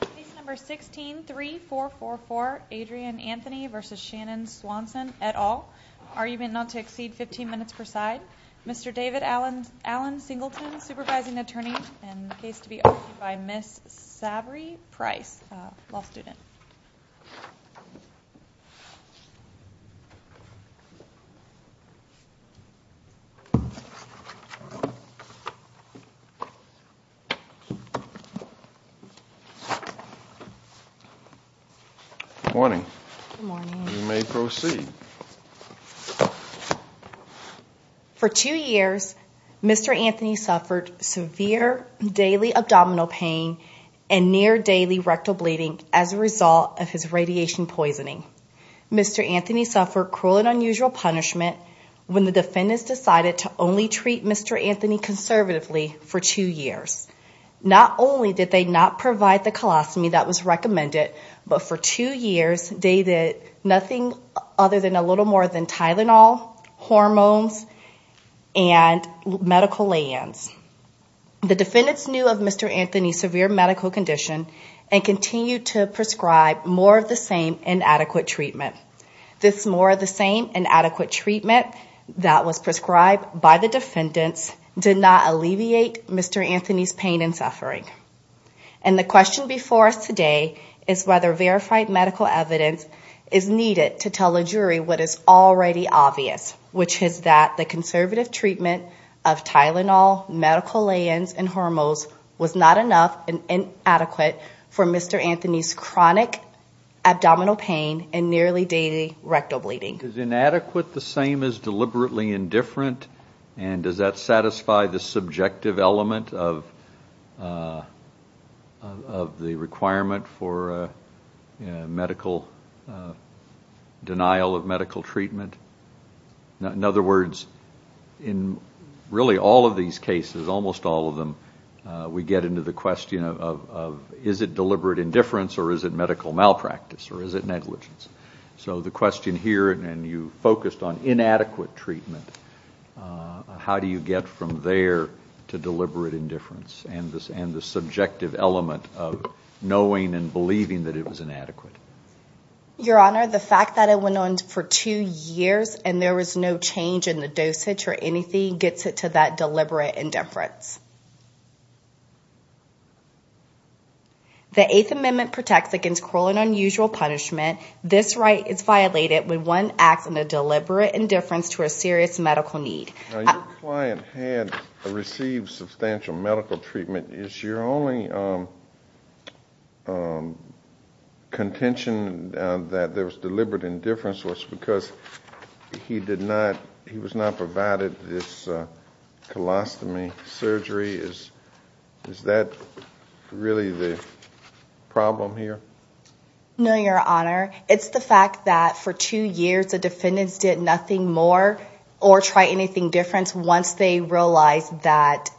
Case number 16-3444 Adrian Anthony v. Shannon Swanson, et al. Argument not to exceed 15 minutes per side. Mr. David Alan Singleton, supervising attorney. And the case to be argued by Ms. Savory Price, a law student. Good morning. Good morning. You may proceed. For two years, Mr. Anthony suffered severe daily abdominal pain and near daily rectal bleeding as a result of his radiation poisoning. Mr. Anthony suffered cruel and unusual punishment when the defendants decided to only treat Mr. Anthony conservatively for two years. Not only did they not provide the colostomy that was recommended, but for two years, they did nothing other than a little more than Tylenol, hormones, and medical lay-ins. The defendants knew of Mr. Anthony's severe medical condition and continued to prescribe more of the same inadequate treatment. This more of the same inadequate treatment that was prescribed by the defendants did not alleviate Mr. Anthony's pain and suffering. And the question before us today is whether verified medical evidence is needed to tell a jury what is already obvious, which is that the conservative treatment of Tylenol, medical lay-ins, and hormones was not enough and inadequate for Mr. Anthony's chronic abdominal pain and nearly daily rectal bleeding. Is inadequate the same as deliberately indifferent and does that satisfy the subjective element of the requirement for denial of medical treatment? In other words, in really all of these cases, almost all of them, we get into the question of is it deliberate indifference or is it medical malpractice or is it negligence? So the question here, and you focused on inadequate treatment, how do you get from there to deliberate indifference and the subjective element of knowing and believing that it was inadequate? Your Honor, the fact that it went on for two years and there was no change in the dosage or anything gets it to that deliberate indifference. The Eighth Amendment protects against cruel and unusual punishment. This right is violated when one acts in a deliberate indifference to a serious medical need. Your client had received substantial medical treatment. Is your only contention that there was deliberate indifference was because he was not provided this colostomy surgery? Is that really the problem here? No, Your Honor. It's the fact that for two years, the defendants did nothing more or try anything different once they realized that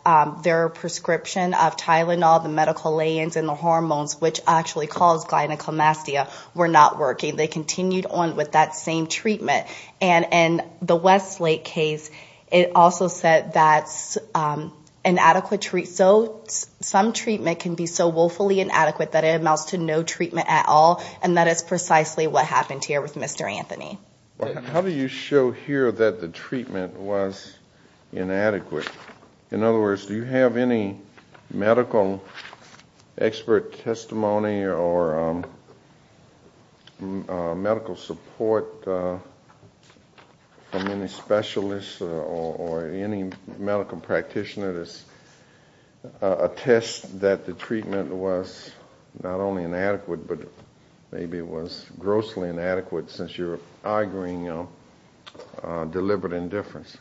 their prescription of Tylenol, the medical lay-ins, and the hormones, which actually cause gynaclomastia, were not working. They continued on with that same treatment. And in the Westlake case, it also said that some treatment can be so woefully inadequate that it amounts to no treatment at all, and that is precisely what happened here with Mr. Anthony. How do you show here that the treatment was inadequate? In other words, do you have any medical expert testimony or medical support from any specialists or any medical practitioners attest that the treatment was not only inadequate, but maybe it was grossly inadequate since you're arguing deliberate indifference?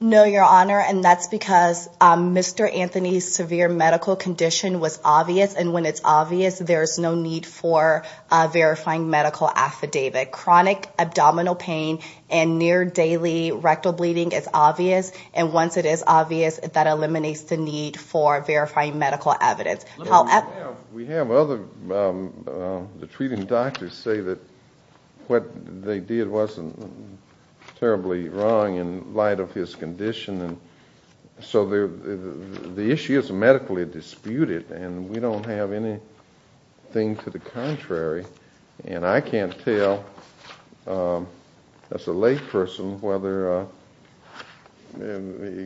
No, Your Honor, and that's because Mr. Anthony's severe medical condition was obvious, and when it's obvious, there's no need for a verifying medical affidavit. Chronic abdominal pain and near-daily rectal bleeding is obvious, and once it is obvious, that eliminates the need for verifying medical evidence. We have other treating doctors say that what they did wasn't terribly wrong in light of his condition, and so the issue is medically disputed, and we don't have anything to the contrary. And I can't tell, as a layperson, whether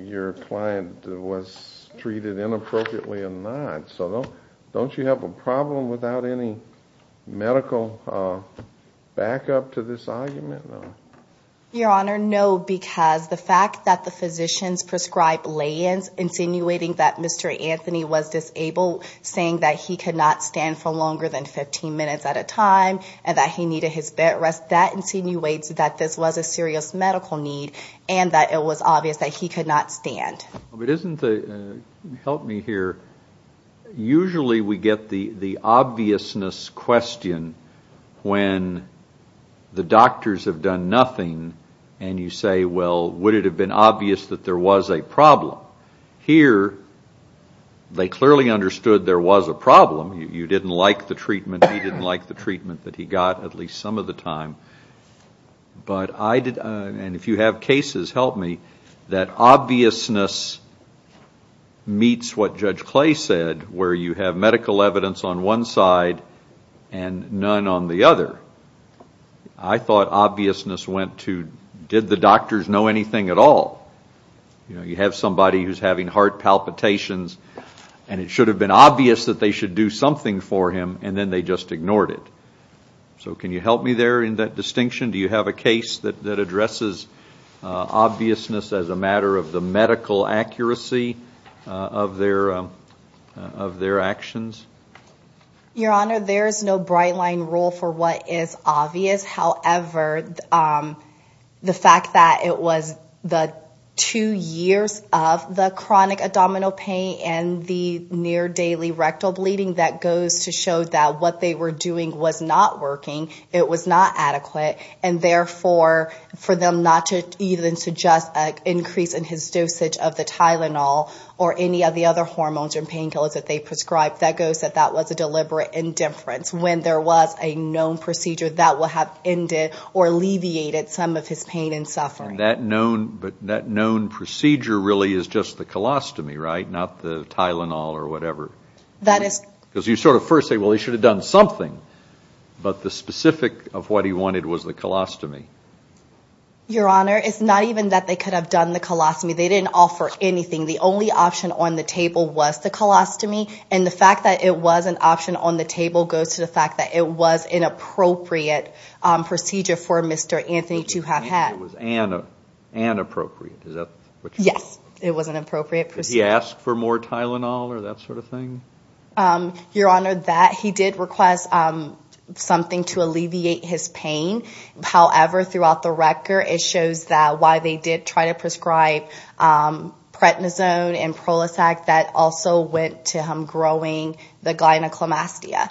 your client was treated inappropriately or not, so don't you have a problem without any medical backup to this argument? Your Honor, no, because the fact that the physicians prescribed lay-ins insinuating that Mr. Anthony was disabled, saying that he could not stand for longer than 15 minutes at a time and that he needed his bed rest, that insinuates that this was a serious medical need and that it was obvious that he could not stand. But isn't the, help me here, usually we get the obviousness question when the doctors have done nothing, and you say, well, would it have been obvious that there was a problem? Here, they clearly understood there was a problem, you didn't like the treatment, he didn't like the treatment that he got at least some of the time, but I did, and if you have cases, help me, that obviousness meets what Judge Clay said where you have medical evidence on one side and none on the other. I thought obviousness went to, did the doctors know anything at all? You have somebody who's having heart palpitations, and it should have been obvious that they should do something for him, and then they just ignored it. So can you help me there in that distinction? Do you have a case that addresses obviousness as a matter of the medical accuracy of their actions? Your Honor, there is no bright line rule for what is obvious. However, the fact that it was the two years of the chronic abdominal pain and the near daily rectal bleeding that goes to show that what they were doing was not working, it was not adequate, and therefore for them not to even suggest an increase in his dosage of the Tylenol or any of the other hormones or painkillers that they prescribed, that goes that that was a deliberate indifference when there was a known procedure that would have ended or alleviated some of his pain and suffering. But that known procedure really is just the colostomy, right, not the Tylenol or whatever? That is. Because you sort of first say, well, he should have done something, but the specific of what he wanted was the colostomy. Your Honor, it's not even that they could have done the colostomy. They didn't offer anything. The only option on the table was the colostomy, and the fact that it was an option on the table goes to the fact that it was an appropriate procedure for Mr. Anthony to have had. It was inappropriate. Yes, it was an appropriate procedure. Your Honor, that he did request something to alleviate his pain. However, throughout the record, it shows that while they did try to prescribe prednisone and Prolisac, that also went to him growing the gynecomastia.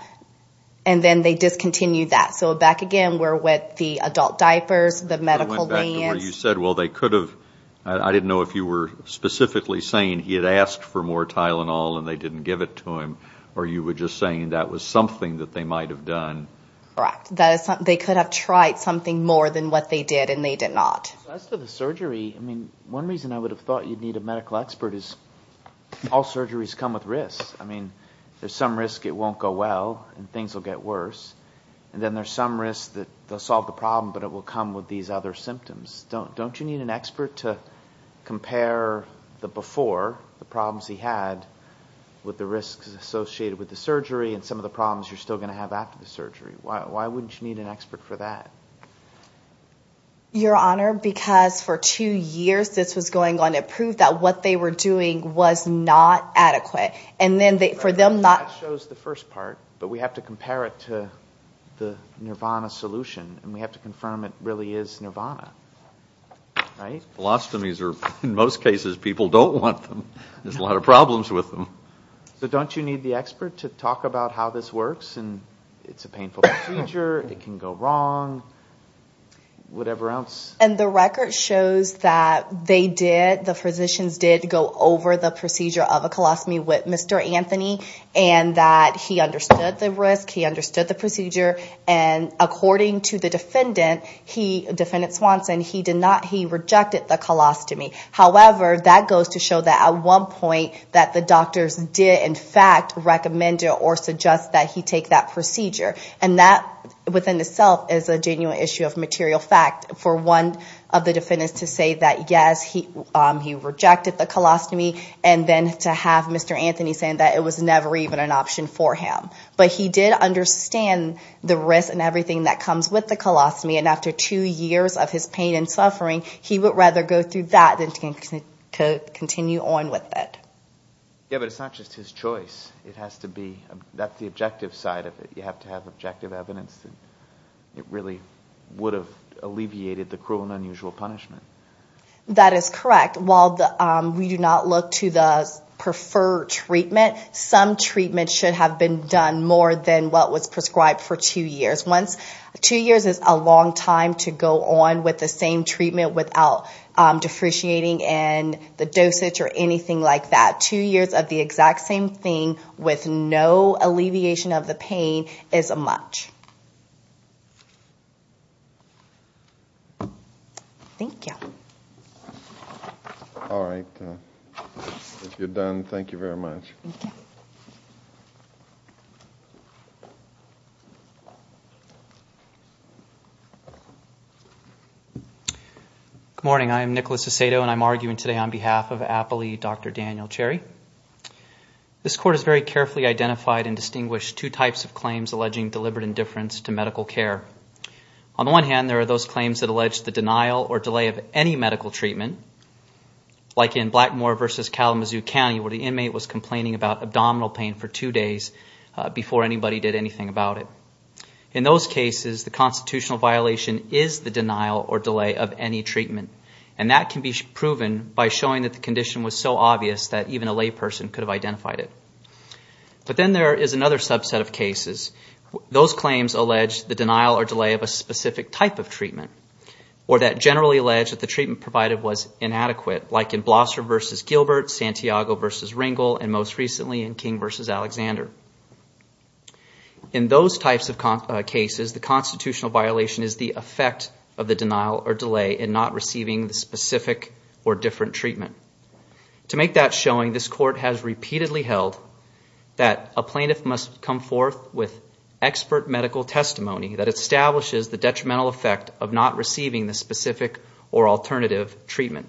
And then they discontinued that. So back again, we're with the adult diapers, the medical bands. Your Honor, you said, well, they could have. I didn't know if you were specifically saying he had asked for more Tylenol and they didn't give it to him, or you were just saying that was something that they might have done. Correct. They could have tried something more than what they did, and they did not. As for the surgery, I mean, one reason I would have thought you'd need a medical expert is all surgeries come with risks. I mean, there's some risk it won't go well and things will get worse. And then there's some risk that they'll solve the problem, but it will come with these other symptoms. Don't you need an expert to compare the before, the problems he had, with the risks associated with the surgery and some of the problems you're still going to have after the surgery? Why wouldn't you need an expert for that? Your Honor, because for two years this was going on to prove that what they were doing was not adequate. That shows the first part, but we have to compare it to the nirvana solution, and we have to confirm it really is nirvana, right? Colostomies are, in most cases, people don't want them. There's a lot of problems with them. So don't you need the expert to talk about how this works and it's a painful procedure, it can go wrong, whatever else? And the record shows that they did, the physicians did go over the procedure of a colostomy with Mr. Anthony and that he understood the risk, he understood the procedure. And according to the defendant, he, Defendant Swanson, he did not, he rejected the colostomy. However, that goes to show that at one point that the doctors did in fact recommend or suggest that he take that procedure. And that within itself is a genuine issue of material fact for one of the defendants to say that, yes, he rejected the colostomy, and then to have Mr. Anthony saying that it was never even an option for him. But he did understand the risk and everything that comes with the colostomy, and after two years of his pain and suffering, he would rather go through that than to continue on with it. Yeah, but it's not just his choice. It has to be, that's the objective side of it. You have to have objective evidence that it really would have alleviated the cruel and unusual punishment. That is correct. While we do not look to the preferred treatment, some treatment should have been done more than what was prescribed for two years. Once, two years is a long time to go on with the same treatment without depreciating in the dosage or anything like that. Two years of the exact same thing with no alleviation of the pain is much. Thank you. All right. If you're done, thank you very much. Thank you. Good morning. I am Nicholas Aceto, and I'm arguing today on behalf of Appley, Dr. Daniel Cherry. This court has very carefully identified and distinguished two types of claims alleging deliberate indifference to medical care. On the one hand, there are those claims that allege the denial or delay of any medical treatment, like in Blackmore v. Kalamazoo County, where the inmate was complaining about abdominal pain for two days before anybody did anything about it. In those cases, the constitutional violation is the denial or delay of any treatment, and that can be proven by showing that the condition was so obvious that even a layperson could have identified it. But then there is another subset of cases. Those claims allege the denial or delay of a specific type of treatment, or that generally allege that the treatment provided was inadequate, like in Blosser v. Gilbert, Santiago v. Ringel, and most recently in King v. Alexander. In those types of cases, the constitutional violation is the effect of the denial or delay in not receiving the specific or different treatment. To make that showing, this court has repeatedly held that a plaintiff must come forth with expert medical testimony that establishes the detrimental effect of not receiving the specific or alternative treatment.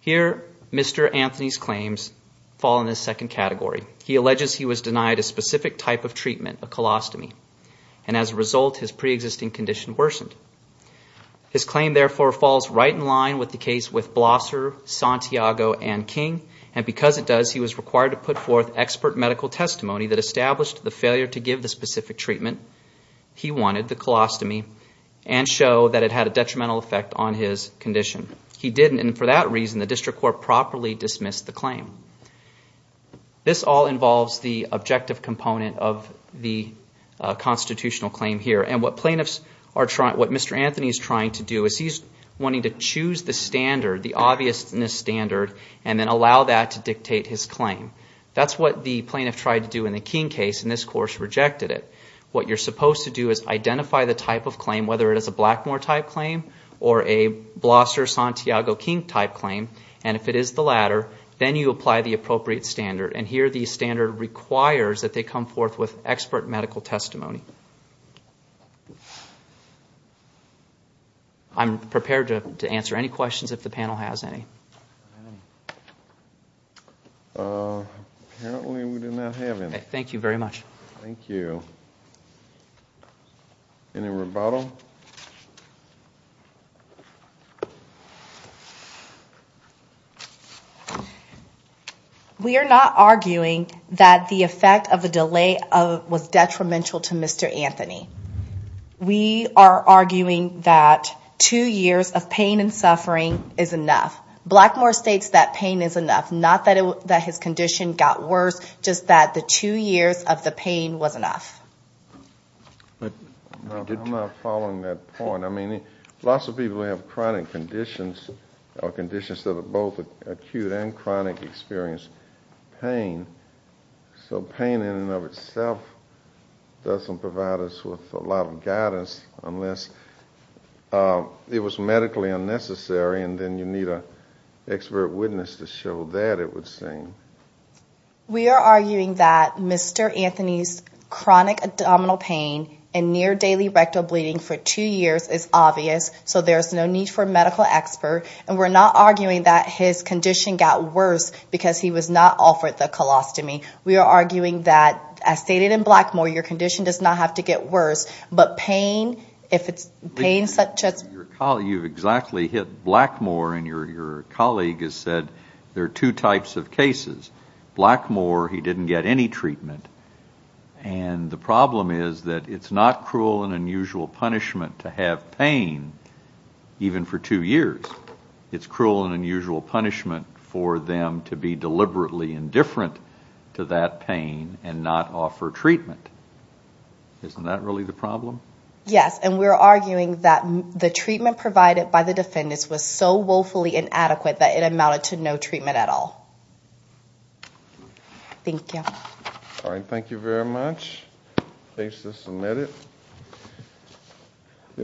Here, Mr. Anthony's claims fall in this second category. He alleges he was denied a specific type of treatment, a colostomy, and as a result, his preexisting condition worsened. His claim, therefore, falls right in line with the case with Blosser, Santiago, and King, and because it does, he was required to put forth expert medical testimony that established the failure to give the specific treatment he wanted, the colostomy, and show that it had a detrimental effect on his condition. He didn't, and for that reason, the district court properly dismissed the claim. This all involves the objective component of the constitutional claim here, and what Mr. Anthony is trying to do is he's wanting to choose the standard, the obviousness standard, and then allow that to dictate his claim. That's what the plaintiff tried to do in the King case, and this court rejected it. What you're supposed to do is identify the type of claim, whether it is a Blackmore-type claim or a Blosser-Santiago-King-type claim, and if it is the latter, then you apply the appropriate standard, and here the standard requires that they come forth with expert medical testimony. I'm prepared to answer any questions if the panel has any. Apparently, we do not have any. Thank you very much. Thank you. Any rebuttal? We are not arguing that the effect of the delay was detrimental to Mr. Anthony. We are arguing that two years of pain and suffering is enough. Blackmore states that pain is enough, not that his condition got worse, just that the two years of the pain was enough. I'm not following that point. I mean, lots of people have chronic conditions or conditions that are both acute and chronic experience pain, so pain in and of itself doesn't provide us with a lot of guidance unless it was medically unnecessary, and then you need an expert witness to show that it would seem. We are arguing that Mr. Anthony's chronic abdominal pain and near-daily rectal bleeding for two years is obvious, so there's no need for a medical expert, and we're not arguing that his condition got worse because he was not offered the colostomy. We are arguing that, as stated in Blackmore, your condition does not have to get worse, but pain, if it's pain such as... You've exactly hit Blackmore, and your colleague has said there are two types of cases. Blackmore, he didn't get any treatment, and the problem is that it's not cruel and unusual punishment to have pain even for two years. It's cruel and unusual punishment for them to be deliberately indifferent to that pain and not offer treatment. Isn't that really the problem? Yes, and we're arguing that the treatment provided by the defendants was so woefully inadequate that it amounted to no treatment at all. Thank you. All right, thank you very much. Thanks for submitting.